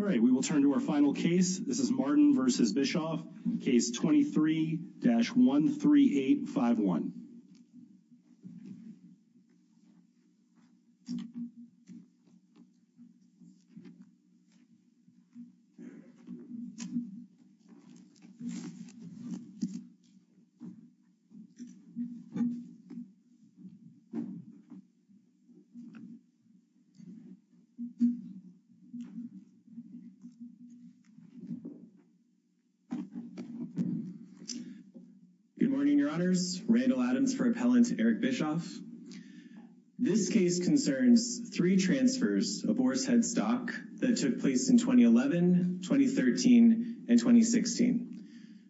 all right we will turn to our final case this is Martin versus Bischoff case 23 Good morning your honors Randall Adams for appellant Eric Bischoff This case concerns three transfers of oars headstock that took place in 2011 2013 and 2016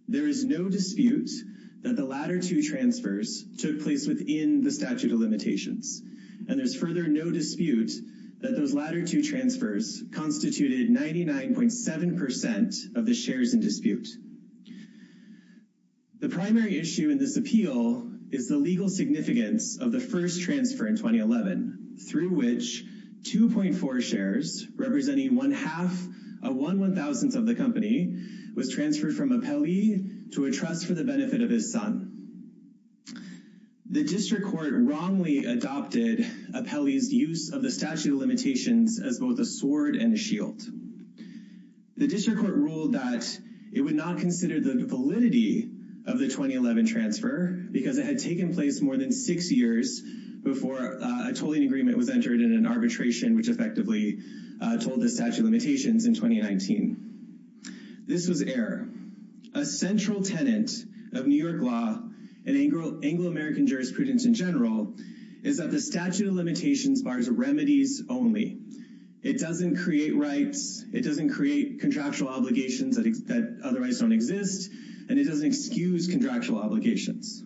There is no dispute that the latter two transfers took place within the statute of limitations And there's further no dispute that those latter two transfers constituted 99.7% of the shares in dispute The primary issue in this appeal is the legal significance of the first transfer in 2011 through which 2.4 shares Representing one half of one one thousandth of the company was transferred from a Pele to a trust for the benefit of his son The district court wrongly adopted a Pele's use of the statute of limitations as both a sword and shield The district court ruled that it would not consider the validity of the 2011 transfer because it had taken place more than six years Before a tolling agreement was entered in an arbitration which effectively told the statute of limitations in 2019 this was error a central tenant of New York law and Anglo-american jurisprudence in general is that the statute of limitations bars remedies only it doesn't create rights It doesn't create contractual obligations that otherwise don't exist and it doesn't excuse contractual obligations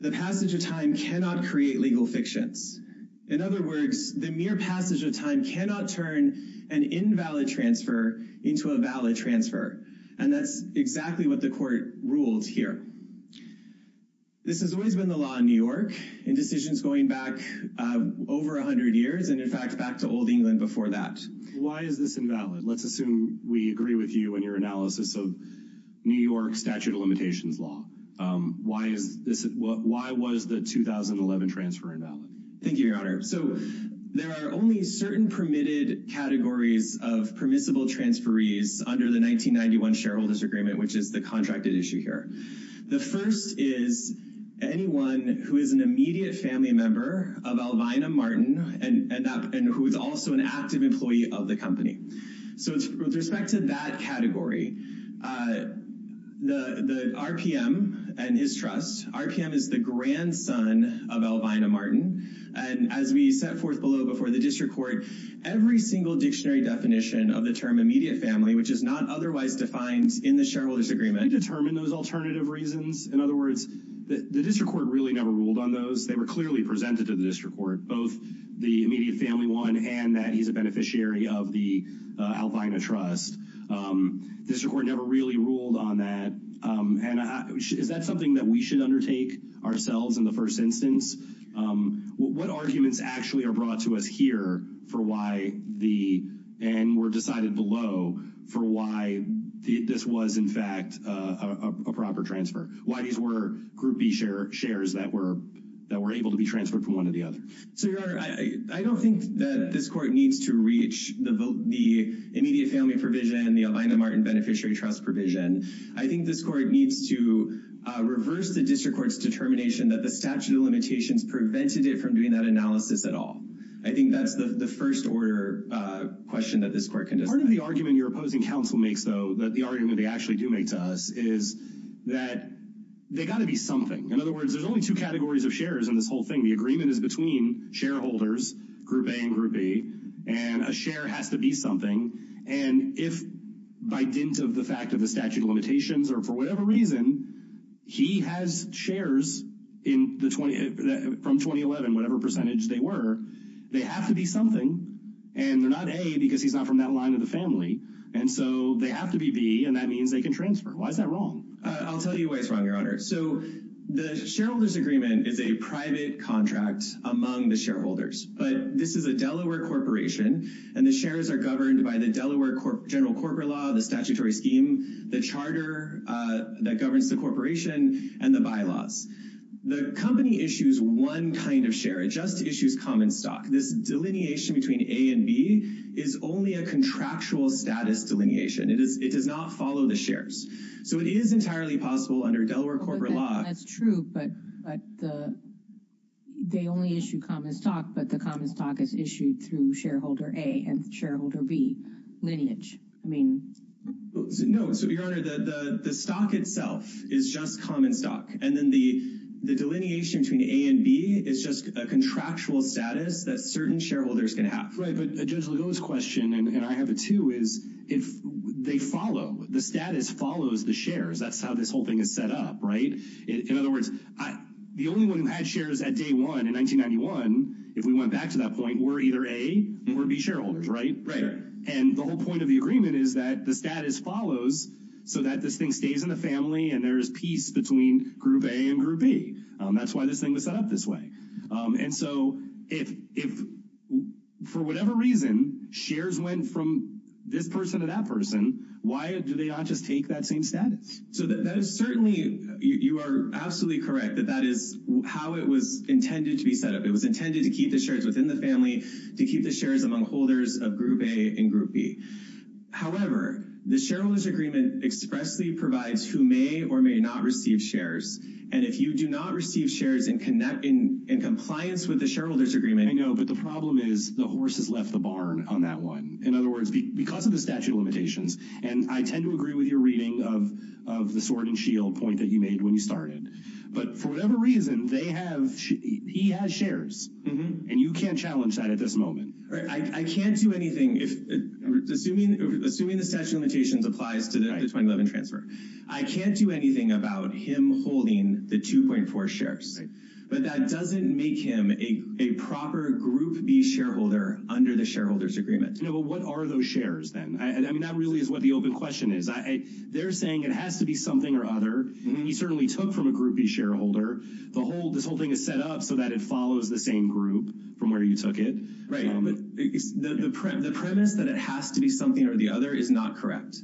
the passage of time cannot create legal fictions in other words the mere passage of time cannot turn an Invalid transfer into a valid transfer and that's exactly what the court ruled here This has always been the law in New York in decisions going back Over a hundred years and in fact back to Old England before that. Why is this invalid? Let's assume we agree with you and your analysis of New York statute of limitations law Why is this what why was the 2011 transfer invalid? Thank you your honor. So there are only certain permitted categories of permissible transfer ease under the 1991 shareholders agreement, which is the contracted issue here the first is Anyone who is an immediate family member of Alvina Martin and and up and who is also an active employee of the company So it's with respect to that category The the RPM and his trust RPM is the grandson of Alvina Martin And as we set forth below before the district court every single dictionary definition of the term immediate family Which is not otherwise defined in the shareholders agreement determine those alternative reasons in other words The district court really never ruled on those they were clearly presented to the district court both the immediate family one and that he's a beneficiary of the Alvina trust This record never really ruled on that And is that something that we should undertake ourselves in the first instance? What arguments actually are brought to us here for why the and were decided below for why This was in fact a proper transfer Why these were group B share shares that were that were able to be transferred from one of the other so your honor I I don't think that this court needs to reach the vote the immediate family provision the Alvina Martin beneficiary trust provision I think this court needs to Reverse the district courts determination that the statute of limitations prevented it from doing that analysis at all I think that's the the first order Question that this court can just part of the argument your opposing counsel makes though that the argument They actually do make to us is that they got to be something in other words There's only two categories of shares in this whole thing the agreement is between shareholders group a and group B and a share has to be something and if By dint of the fact of the statute of limitations or for whatever reason He has shares in the 20 from 2011. Whatever percentage they were They have to be something and they're not a because he's not from that line of the family And so they have to be B and that means they can transfer. Why is that wrong? I'll tell you why it's wrong your honor. So the shareholders agreement is a private contract among the shareholders But this is a Delaware corporation and the shares are governed by the Delaware general corporate law the statutory scheme the Charter That governs the corporation and the bylaws the company issues one kind of share it just issues common stock this delineation between A and B is Only a contractual status delineation. It is it does not follow the shares. So it is entirely possible under Delaware corporate law that's true, but They only issue common stock, but the common stock is issued through shareholder a and shareholder B lineage. I mean No, so your honor the the stock itself is just common stock and then the the delineation between A and B It's just a contractual status that certain shareholders can have right but a judge Lugo's question And I have a two is if they follow the status follows the shares. That's how this whole thing is set up, right? in other words The only one who had shares at day one in 1991 if we went back to that point were either a or B shareholders Right, right and the whole point of the agreement is that the status follows so that this thing stays in the family and there's peace between group A and group B That's why this thing was set up this way. And so if if For whatever reason shares went from this person to that person. Why do they not just take that same status? So that is certainly you are absolutely correct that that is how it was intended to be set up It was intended to keep the shares within the family to keep the shares among holders of group A and group B However, the shareholders agreement expressly provides who may or may not receive shares And if you do not receive shares and connect in in compliance with the shareholders agreement I know but the problem is the horse has left the barn on that one in other words because of the statute of limitations And I tend to agree with your reading of of the sword and shield point that you made when you started But for whatever reason they have He has shares and you can't challenge that at this moment. I can't do anything if Assuming assuming the statute of limitations applies to the 2011 transfer I can't do anything about him holding the 2.4 shares But that doesn't make him a a proper group B shareholder under the shareholders agreement No, what are those shares then? I mean that really is what the open question is They're saying it has to be something or other You certainly took from a group B shareholder the whole this whole thing is set up so that it follows the same group From where you took it, right? It's the premise that it has to be something or the other is not correct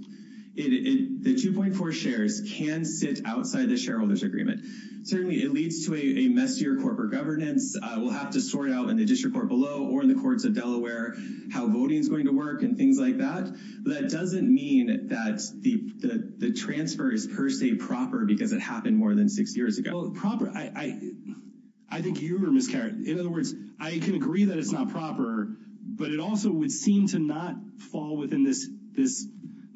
It the 2.4 shares can sit outside the shareholders agreement Certainly, it leads to a messier corporate governance We'll have to sort out in the district court below or in the courts of Delaware how voting is going to work and things like That doesn't mean that the the transfer is per se proper because it happened more than six years ago proper I I Think you were miscarried. In other words, I can agree that it's not proper But it also would seem to not fall within this this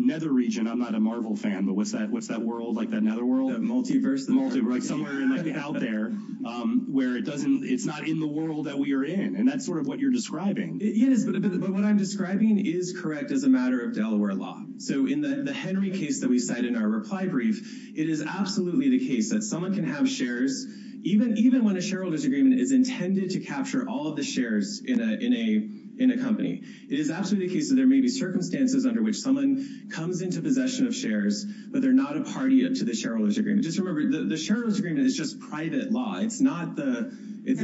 nether region I'm not a Marvel fan. But what's that? What's that world like that another world a multiverse the multi right somewhere out there Where it doesn't it's not in the world that we are in and that's sort of what you're describing Yes, but what I'm describing is correct as a matter of Delaware law So in the Henry case that we cite in our reply brief It is absolutely the case that someone can have shares Even even when a shareholder's agreement is intended to capture all of the shares in a in a in a company It is absolutely the case that there may be circumstances under which someone comes into possession of shares But they're not a party up to the shareholders agreement. Just remember the shareholders agreement is just private law. It's not the it's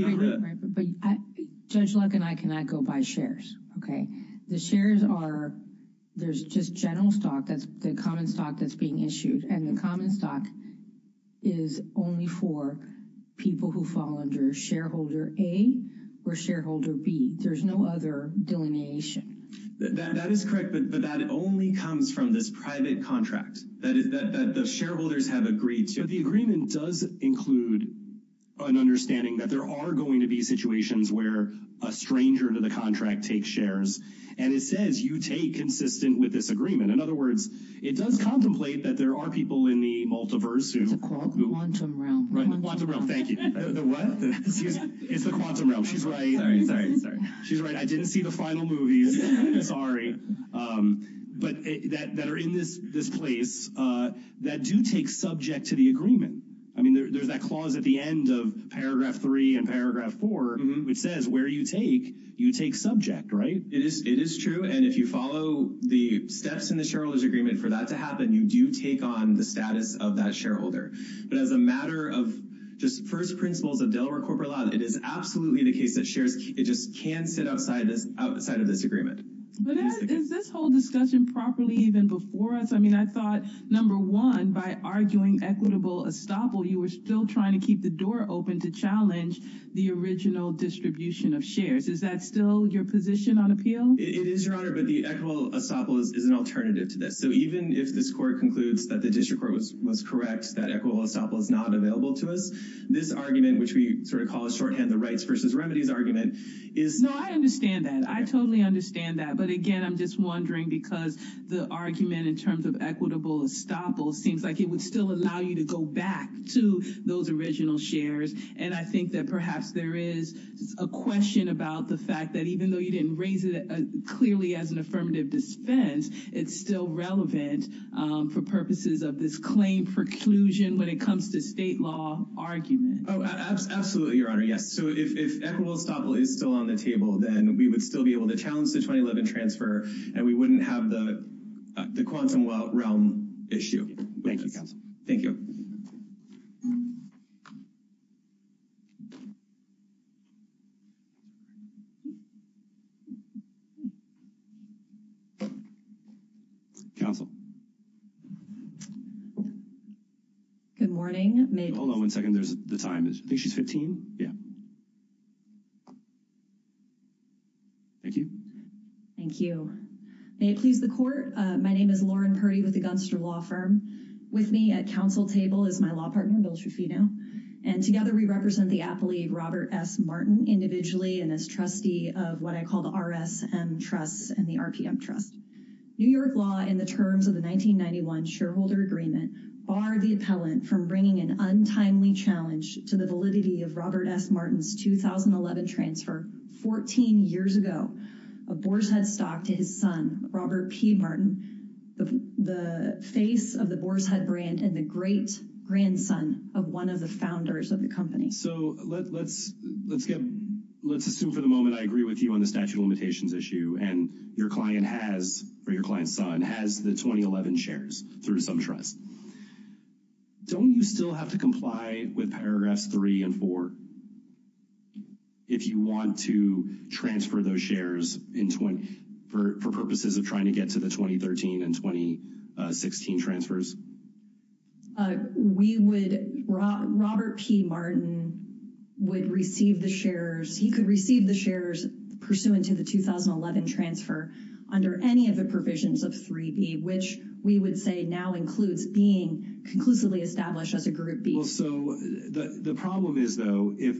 Judge luck and I cannot go by shares. Okay, the shares are There's just general stock. That's the common stock that's being issued and the common stock is only for People who fall under shareholder a or shareholder B. There's no other delineation That is correct But that it only comes from this private contract that is that the shareholders have agreed to the agreement does include An understanding that there are going to be situations where a stranger to the contract takes shares And it says you take consistent with this agreement In other words, it does contemplate that there are people in the multiverse It's the quantum realm. Right, the quantum realm. Thank you. It's the quantum realm. She's right. Sorry, sorry, sorry. She's right. I didn't see the final movies. Sorry. But that are in this this place That do take subject to the agreement I mean, there's that clause at the end of paragraph three and paragraph four It says where you take you take subject, right? It is it is true And if you follow the steps in the shareholders agreement for that to happen You do take on the status of that shareholder But as a matter of just first principles of Delaware corporate law, it is absolutely the case that shares It just can't sit outside this outside of this agreement Is this whole discussion properly even before us? I mean, I thought number one by arguing equitable estoppel You were still trying to keep the door open to challenge the original distribution of shares Is that still your position on appeal? It is your honor, but the equitable estoppel is an alternative to this So even if this court concludes that the district court was was correct that equitable estoppel is not available to us This argument which we sort of call a shorthand the rights versus remedies argument is no, I understand that I totally understand that but again I'm just wondering because the argument in terms of equitable Estoppel seems like it would still allow you to go back to those original shares And I think that perhaps there is a question about the fact that even though you didn't raise it Clearly as an affirmative defense. It's still relevant For purposes of this claim preclusion when it comes to state law argument. Oh, absolutely. Your honor Yes So if equitable estoppel is still on the table, then we would still be able to challenge the 2011 transfer and we wouldn't have the The quantum realm issue. Thank you. Thank you Counsel Good morning, hold on one second. There's the time is I think she's 15. Yeah Thank you Thank you May it please the court. My name is Lauren Purdy with the Gunster law firm With me at counsel table is my law partner Bill Trufino and together We represent the aptly Robert S Martin individually and as trustee of what I call the RS and trusts and the RPM trust New York law in the terms of the 1991 shareholder agreement barred the appellant from bringing an untimely challenge to the validity of Robert S Martin's 2011 transfer 14 years ago a Boar's Head stock to his son Robert P Martin the the face of the Boar's Head brand and the great grandson of one of the founders of the company so let's let's get let's assume for the moment I agree with you on the statute of limitations issue and your client has For your client's son has the 2011 shares through some trust Don't you still have to comply with paragraphs 3 & 4? if you want to transfer those shares in 20 for purposes of trying to get to the 2013 and 2016 transfers We would Robert P Martin Would receive the shares he could receive the shares Pursuant to the 2011 transfer under any of the provisions of 3b Which we would say now includes being conclusively established as a group B So the the problem is though if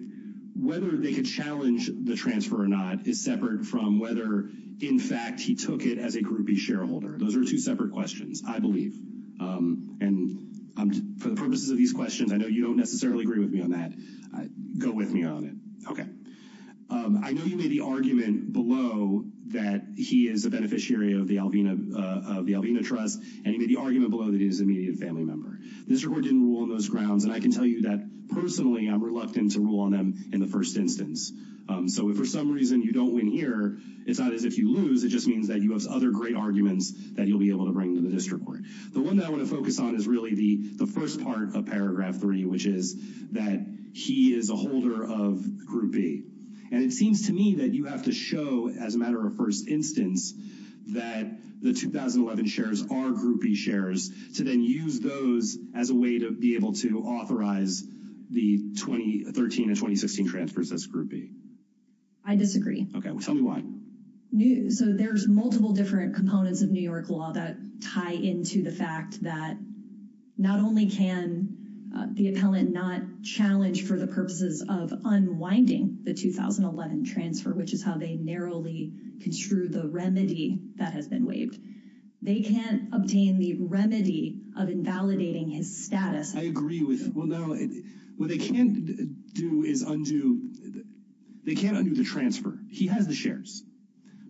whether they could challenge the transfer or not is separate from whether In fact, he took it as a groupie shareholder. Those are two separate questions. I believe And I'm for the purposes of these questions. I know you don't necessarily agree with me on that. I go with me on it I know you made the argument below that he is a beneficiary of the Alvina The Alvina trust and he made the argument below that is immediate family member This record didn't rule on those grounds and I can tell you that personally I'm reluctant to rule on them in the first instance So if for some reason you don't win here, it's not as if you lose It just means that you have other great arguments that you'll be able to bring to the district court the one that I want to focus on is really the the first part of paragraph 3 which is that he is a holder of Groupie and it seems to me that you have to show as a matter of first instance that the 2011 shares are groupie shares to then use those as a way to be able to authorize the 2013 and 2016 transfers as groupie. I Disagree. Okay. Tell me why? New so there's multiple different components of New York law that tie into the fact that not only can The appellant not challenge for the purposes of unwinding the 2011 transfer, which is how they narrowly Construe the remedy that has been waived. They can't obtain the remedy of invalidating his status I agree with well, no, what they can't do is undo They can't undo the transfer. He has the shares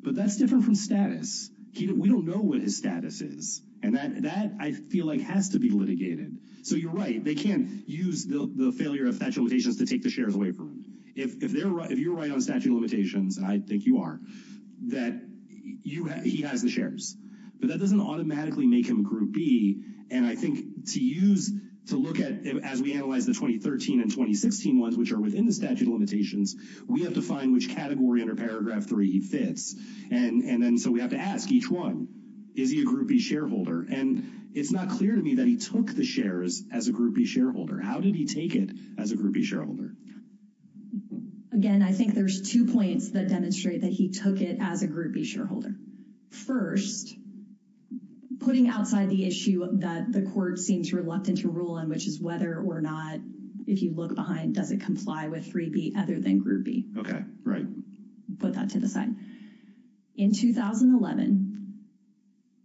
But that's different from status. We don't know what his status is and that that I feel like has to be litigated So you're right They can't use the failure of statute of limitations to take the shares away from him. If you're right on statute of limitations I think you are that He has the shares but that doesn't automatically make him a groupie and I think to use to look at as we analyze the 2013 and 2016 ones which are within the statute of limitations We have to find which category under paragraph 3 he fits and and then so we have to ask each one Is he a groupie shareholder and it's not clear to me that he took the shares as a groupie shareholder How did he take it as a groupie shareholder? Again, I think there's two points that demonstrate that he took it as a groupie shareholder first Putting outside the issue that the court seems reluctant to rule in which is whether or not If you look behind does it comply with 3b other than groupie? Okay, right put that to the side in 2011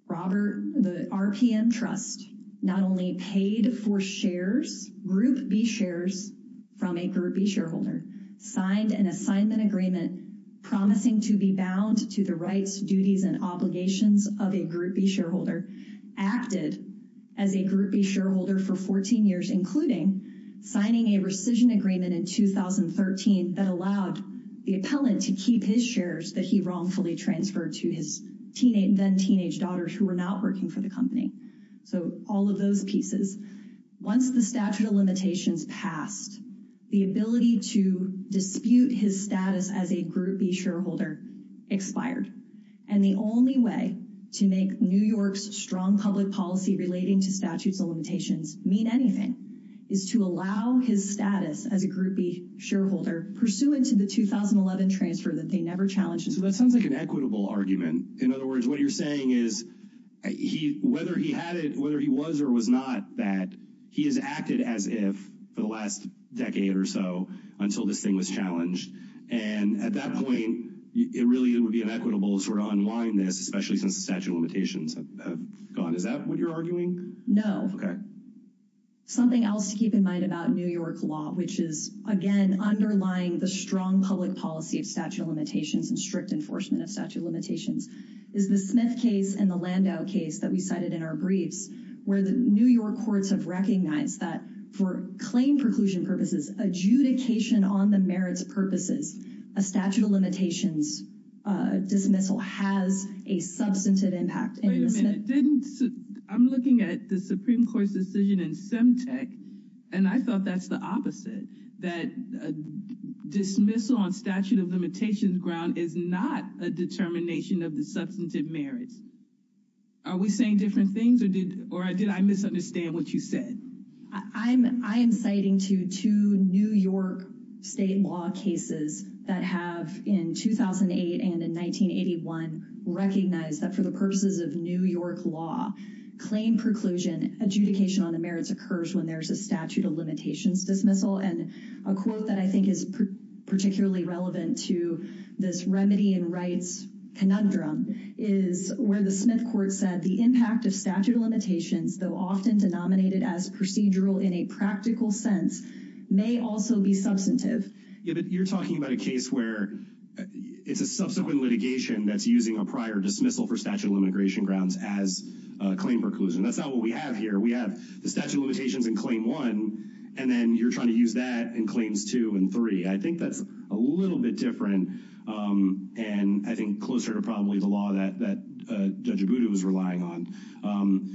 Robert the RPM trust not only paid for shares group B shares From a groupie shareholder signed an assignment agreement Promising to be bound to the rights duties and obligations of a groupie shareholder acted as a groupie shareholder for 14 years including signing a rescission agreement in 2013 that allowed the appellant to keep his shares that he wrongfully transferred to his Teenage then teenage daughters who were not working for the company. So all of those pieces Once the statute of limitations passed the ability to dispute his status as a groupie shareholder expired and the only way to make New York's strong public policy relating to statutes of limitations mean anything is To allow his status as a groupie shareholder pursuant to the 2011 transfer that they never challenged So that sounds like an equitable argument. In other words, what you're saying is He whether he had it whether he was or was not that he has acted as if for the last Decade or so until this thing was challenged and at that point It really would be an equitable sort of unwind this especially since the statute of limitations have gone. Is that what you're arguing? No, okay Something else to keep in mind about New York law Which is again underlying the strong public policy of statute of limitations and strict enforcement of statute of limitations Is the Smith case and the Landau case that we cited in our briefs Where the New York courts have recognized that for claim preclusion purposes adjudication on the merits purposes a statute of limitations dismissal has a Substantive impact I'm looking at the Supreme Court's decision in Semtec and I thought that's the opposite that Dismissal on statute of limitations ground is not a determination of the substantive merits Are we saying different things or did or I did I misunderstand what you said? I'm I am citing to to New York state law cases that have in 2008 and in 1981 Recognized that for the purposes of New York law claim preclusion adjudication on the merits occurs when there's a statute of limitations dismissal and a quote that I think is particularly relevant to this remedy and rights Conundrum is where the Smith court said the impact of statute of limitations though often denominated as procedural in a practical sense May also be substantive. Yeah, but you're talking about a case where It's a subsequent litigation that's using a prior dismissal for statute of immigration grounds as Claim preclusion. That's not what we have here We have the statute of limitations in claim one and then you're trying to use that in claims two and three I think that's a little bit different And I think closer to probably the law that that judge Abudu was relying on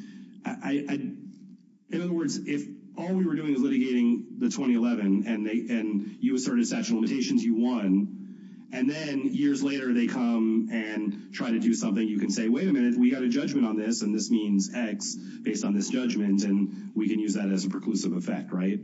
In other words if all we were doing is litigating the 2011 and they and you asserted statute of limitations you won And then years later they come and try to do something you can say wait a minute We got a judgment on this and this means X based on this judgment and we can use that as a preclusive effect, right?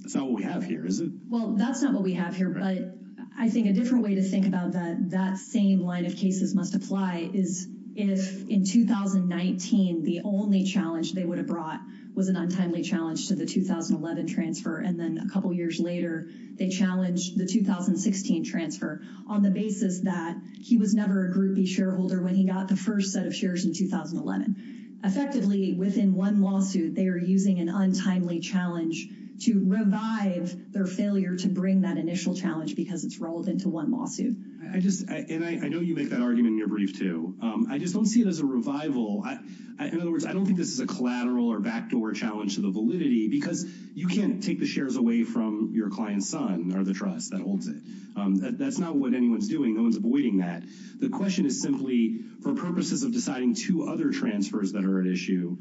That's not what we have here, is it? Well, that's not what we have here But I think a different way to think about that that same line of cases must apply is if in 2019 the only challenge they would have brought was an untimely challenge to the 2011 transfer and then a couple years later They challenged the 2016 transfer on the basis that he was never a groupie shareholder when he got the first set of shares in 2011 Effectively within one lawsuit, they are using an untimely challenge to revive their failure to bring that initial challenge Because it's relevant to one lawsuit. I just and I know you make that argument in your brief, too I just don't see it as a revival in other words I don't think this is a collateral or backdoor challenge to the validity because you can't take the shares away from Your client's son or the trust that holds it. That's not what anyone's doing No one's avoiding that. The question is simply for purposes of deciding two other transfers that are at issue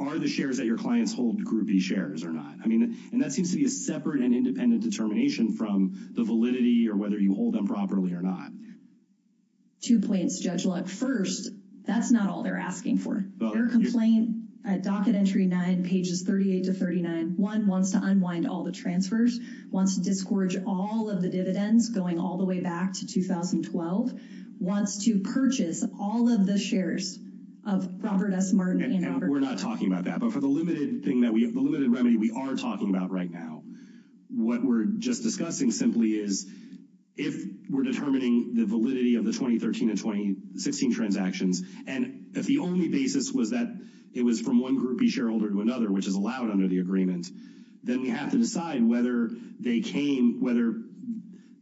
Are the shares that your clients hold groupie shares or not? I mean and that seems to be a separate and independent determination from the validity or whether you hold them properly or not Two points Judge Luck. First, that's not all they're asking for. Their complaint at docket entry 9 pages 38 to 39 One wants to unwind all the transfers, wants to discourage all of the dividends going all the way back to 2012 Wants to purchase all of the shares of Robert S. Martin. And we're not talking about that. But for the limited thing that we have, the limited remedy we are talking about right now What we're just discussing simply is if we're determining the validity of the 2013 and 2016 Transactions and if the only basis was that it was from one groupie shareholder to another which is allowed under the agreement Then we have to decide whether they came whether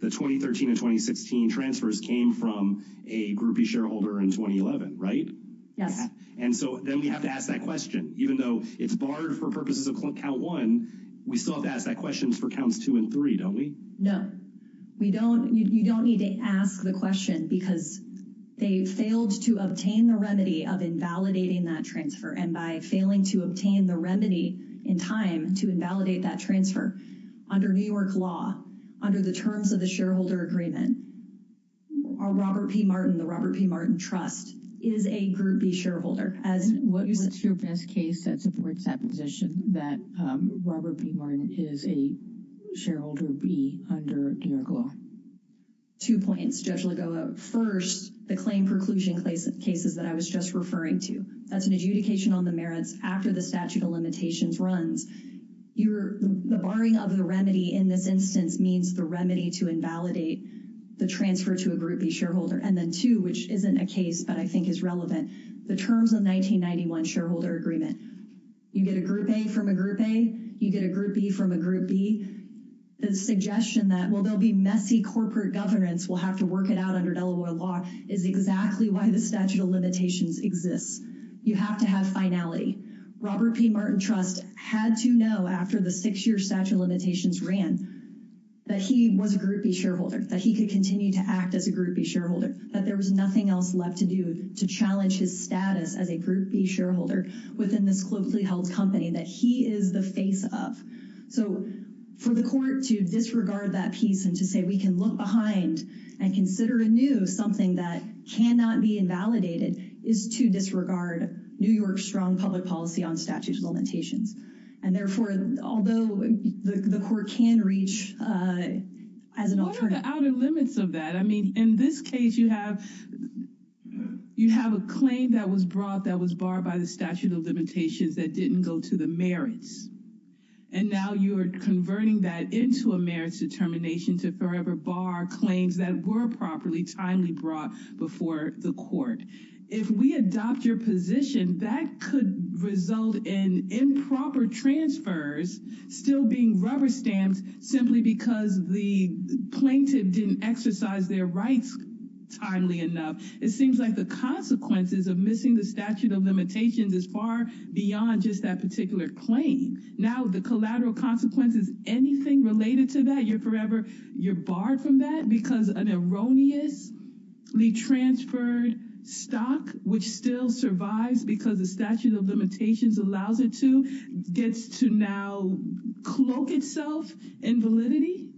The 2013 and 2016 transfers came from a groupie shareholder in 2011, right? Yes And so then we have to ask that question even though it's barred for purposes of count one We still have to ask that questions for counts two and three, don't we? No, we don't. You don't need to ask the question because they failed to obtain the remedy of invalidating that transfer and by failing to obtain the remedy in time to invalidate that transfer under New York law under the terms of the shareholder agreement Robert P. Martin, the Robert P. Martin Trust is a groupie shareholder as What is your best case that supports that position that Robert P. Martin is a shareholder B under New York law? Two points, Judge Lagoa. First, the claim preclusion cases that I was just referring to. That's an adjudication on the merits after the statute of limitations runs The barring of the remedy in this instance means the remedy to invalidate The transfer to a groupie shareholder. And then two, which isn't a case, but I think is relevant. The terms of 1991 shareholder agreement. You get a group A from a group A, you get a group B from a group B. The suggestion that will there'll be messy corporate governance will have to work it out under Delaware law is exactly why the statute of limitations exists. You have to have finality. Robert P. Martin Trust had to know after the six-year statute of limitations ran That he was a groupie shareholder, that he could continue to act as a groupie shareholder, that there was nothing else left to do to challenge his status as a groupie shareholder within this closely held company that he is the face of. So for the court to disregard that piece and to say we can look behind and consider anew something that cannot be invalidated is to disregard New York strong public policy on statute of limitations and therefore, although the court can reach As an alternative. What are the outer limits of that? I mean, in this case you have You have a claim that was brought that was barred by the statute of limitations that didn't go to the merits. And now you're converting that into a merits determination to forever bar claims that were properly timely brought before the court. If we adopt your position that could result in improper transfers still being rubber stamped simply because the plaintiff didn't exercise their rights. Timely enough, it seems like the consequences of missing the statute of limitations is far beyond just that particular claim. Now the collateral consequences anything related to that you're forever you're barred from that because an erroneous Retransferred stock which still survives because the statute of limitations allows it to gets to now cloak itself and validity.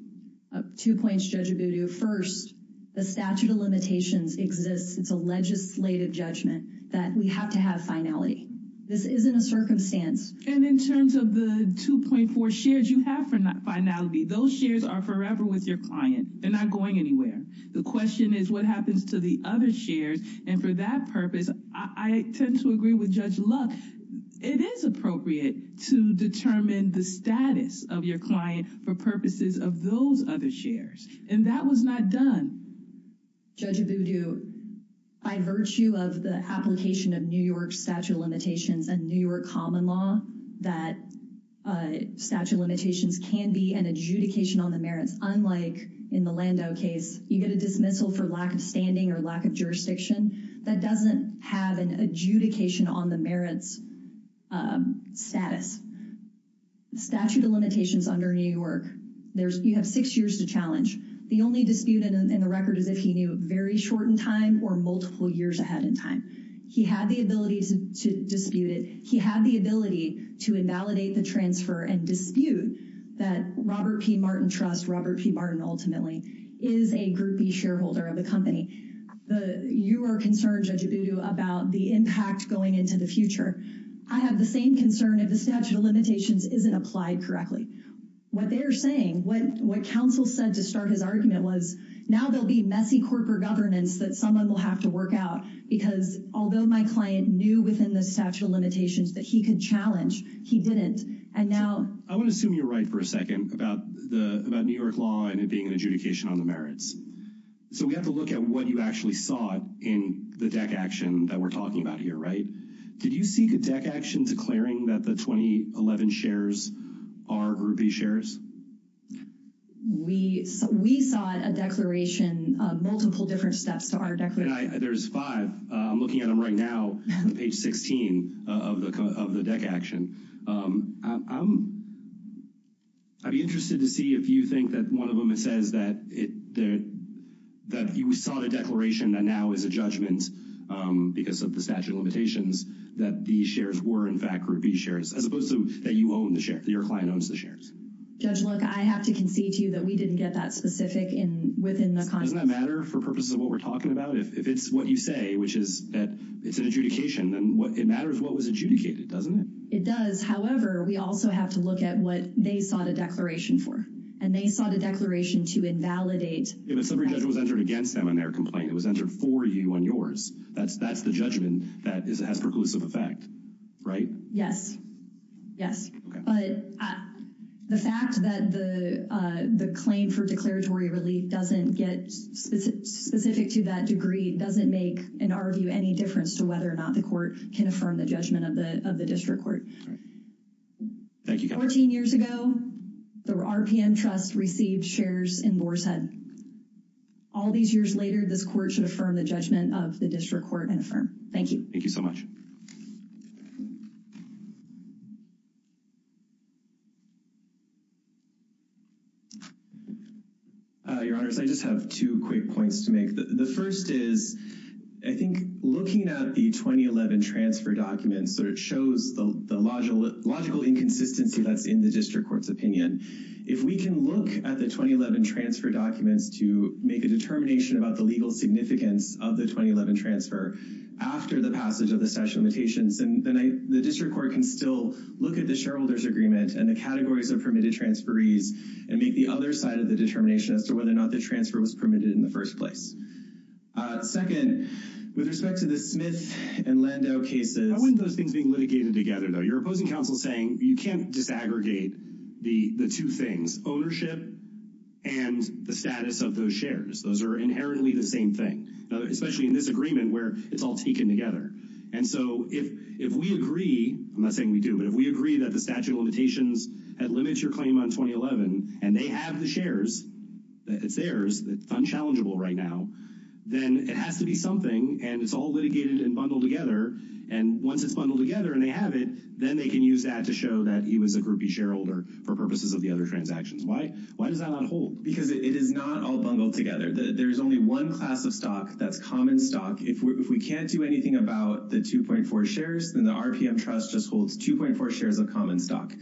Up two points, Judge Abudu. First, the statute of limitations exists. It's a legislative judgment that we have to have finality. This isn't a circumstance. And in terms of the 2.4 shares you have for not finality those shares are forever with your client. They're not going anywhere. The question is what happens to the other shares and for that purpose. I tend to agree with Judge luck. It is appropriate to determine the status of your client for purposes of those other shares and that was not done. Judge Abudu, by virtue of the application of New York statute of limitations and New York common law that statute of limitations can be an adjudication on the merits. Unlike in the Lando case, you get a dismissal for lack of standing or lack of jurisdiction that doesn't have an adjudication on the merits status statute of limitations under New York, there's you have six years to challenge the only disputed in the rest of the United States. And the only chance that you get is if you don't have a good record. The only chance that you have is if you don't have a good record is if he knew very short in time or multiple years ahead in time. He had the ability to dispute it. He had the ability to invalidate the transfer and dispute that Robert P. Martin trust Robert P. Martin ultimately is a groupie shareholder of the company. You are concerned, Judge Abudu, about the impact going into the future. I have the same concern if the statute of limitations isn't applied correctly, what they're saying, what what counsel said to start his argument was now there'll be messy corporate governance that someone will have to work out because although my client knew within the statute of limitations that he could challenge, he didn't, and now I want to assume you're right for a second about the about New York law and it being an adjudication on the merits. So we have to look at what you actually saw it in the deck action that we're talking about here, right? Did you see the deck action declaring that the 2011 shares are groupie shares? We we saw a declaration of multiple different steps to our deck. And I there's five. I'm looking at them right now. Page 16 of the of the deck action. I'd be interested to see if you think that one of them, it says that it that that you saw the declaration that now is a judgment because of the statute of limitations that these shares were, in fact, groupie shares as opposed to that you own the share that your client owns the shares. Judge, look, I have to concede to you that we didn't get that specific in within the doesn't matter for purposes of what we're talking about. If it's what you say, which is that it's an adjudication and what it matters, what was adjudicated, doesn't it? It does. However, we also have to look at what they sought a declaration for and they sought a declaration to invalidate it. So every judge was entered against them on their complaint. It was entered for you on yours. That's that's the judgment that is has preclusive effect. Right? Yes. Yes. But the fact that the the claim for declaratory relief doesn't get specific to that degree doesn't make an argue any difference to whether or not the court can affirm the judgment of the of the district court. All right. Thank you. Fourteen years ago, the RPM Trust received shares in Boar's Head. All these years later, this court should affirm the judgment of the district court and affirm. Thank you. Thank you so much. Your Honor, I just have two quick points to make. The first is, I think, looking at the twenty eleven transfer documents that it shows the logical, logical inconsistency that's in the district court's opinion. If we can look at the twenty eleven transfer documents to make a determination about the legal significance of the twenty eleven transfer after the passage of the statute of limitations and the district court can still look at the shareholders agreement and the categories of permitted transferees and make the other side of the determination as to whether or not the transfer was permitted in the first place. Second, with respect to the Smith and Lando cases, those things being litigated together, though, your opposing counsel saying you can't disaggregate the the two things ownership and the status of those shares. Those are inherently the same thing, especially in this agreement where it's all taken together. And so if if we agree, I'm not saying we do, but if we agree that the statute of limitations limits your claim on twenty eleven and they have the shares, it's theirs, it's unchallengeable right now, then it has to be something. And it's all litigated and bundled together. And once it's bundled together and they have it, then they can use that to show that he was a groupie shareholder for purposes of the other transactions. Why? Why does that not hold? Because it is not all bundled together. There's only one class of stock that's common stock. If we can't do anything about the two point four shares, then the RPM trust just holds two point four shares of common stock.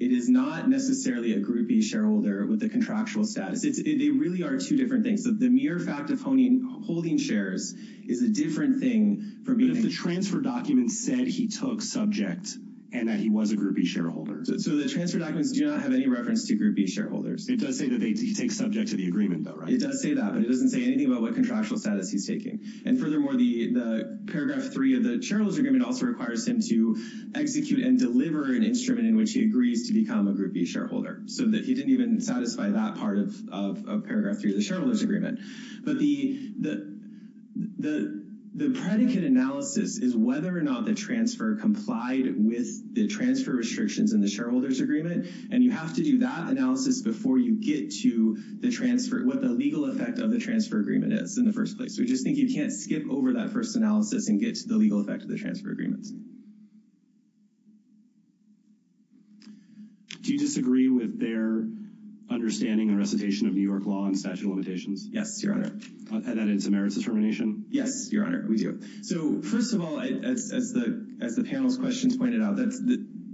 It is not necessarily a groupie shareholder with the contractual status. It really are two different things that the mere fact of owning holding shares is a different thing for me. If the transfer documents said he took subject and that he was a groupie shareholder. So the transfer documents do not have any reference to groupie shareholders. It does say that they take subject to the agreement. It does say that, but it doesn't say anything about what contractual status he's taking. And furthermore, the paragraph three of the shareholder's agreement also requires him to execute and deliver an instrument in which he agrees to become a groupie shareholder. So that he didn't even satisfy that part of paragraph three of the shareholder's agreement. But the predicate analysis is whether or not the transfer complied with the transfer restrictions in the shareholder's agreement. And you have to do that analysis before you get to the transfer, what the legal effect of the transfer agreement is in the first place. We just think you can't skip over that first analysis and get to the legal effect of the transfer agreements. Do you disagree with their understanding and recitation of New York law and statute of limitations? Yes, Your Honor. And that it's a merits determination? Yes, Your Honor, we do. So first of all, as the panel's questions pointed out,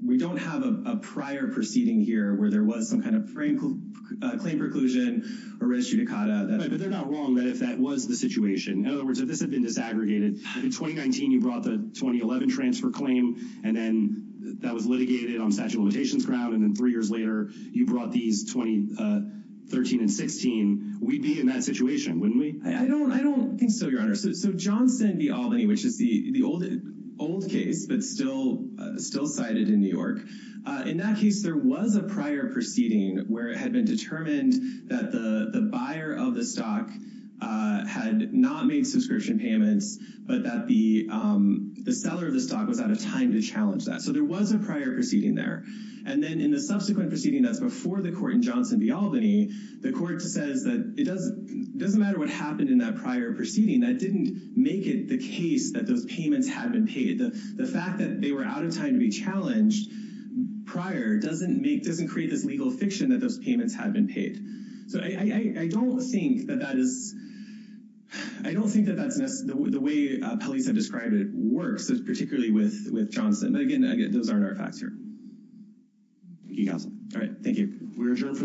we don't have a prior proceeding here where there was some kind of claim preclusion or res judicata. But they're not wrong that if that was the situation, in other words, if this had been disaggregated in 2019, you brought the 2011 transfer claim. And then that was litigated on statute of limitations ground. And then three years later, you brought these 2013 and 16, we'd be in that situation, wouldn't we? I don't think so, Your Honor. So Johnson v. Albany, which is the old case, but still cited in New York, in that case, there was a prior proceeding where it had been determined that the buyer of the stock had not made subscription payments, but that the seller of the stock was out of time to challenge that. So there was a prior proceeding there. And then in the subsequent proceeding that's before the court in Johnson v. Albany, the court says that it doesn't matter what happened in that prior proceeding. That didn't make it the case that those payments had been paid. The fact that they were out of time to be challenged prior doesn't create this legal fiction that those payments had been paid. So I don't think that that is, I don't think that that's the way police have described it works, particularly with Johnson. But again, those aren't our facts here. Thank you, counsel. All right, thank you. We're adjourned for the day. Thank you.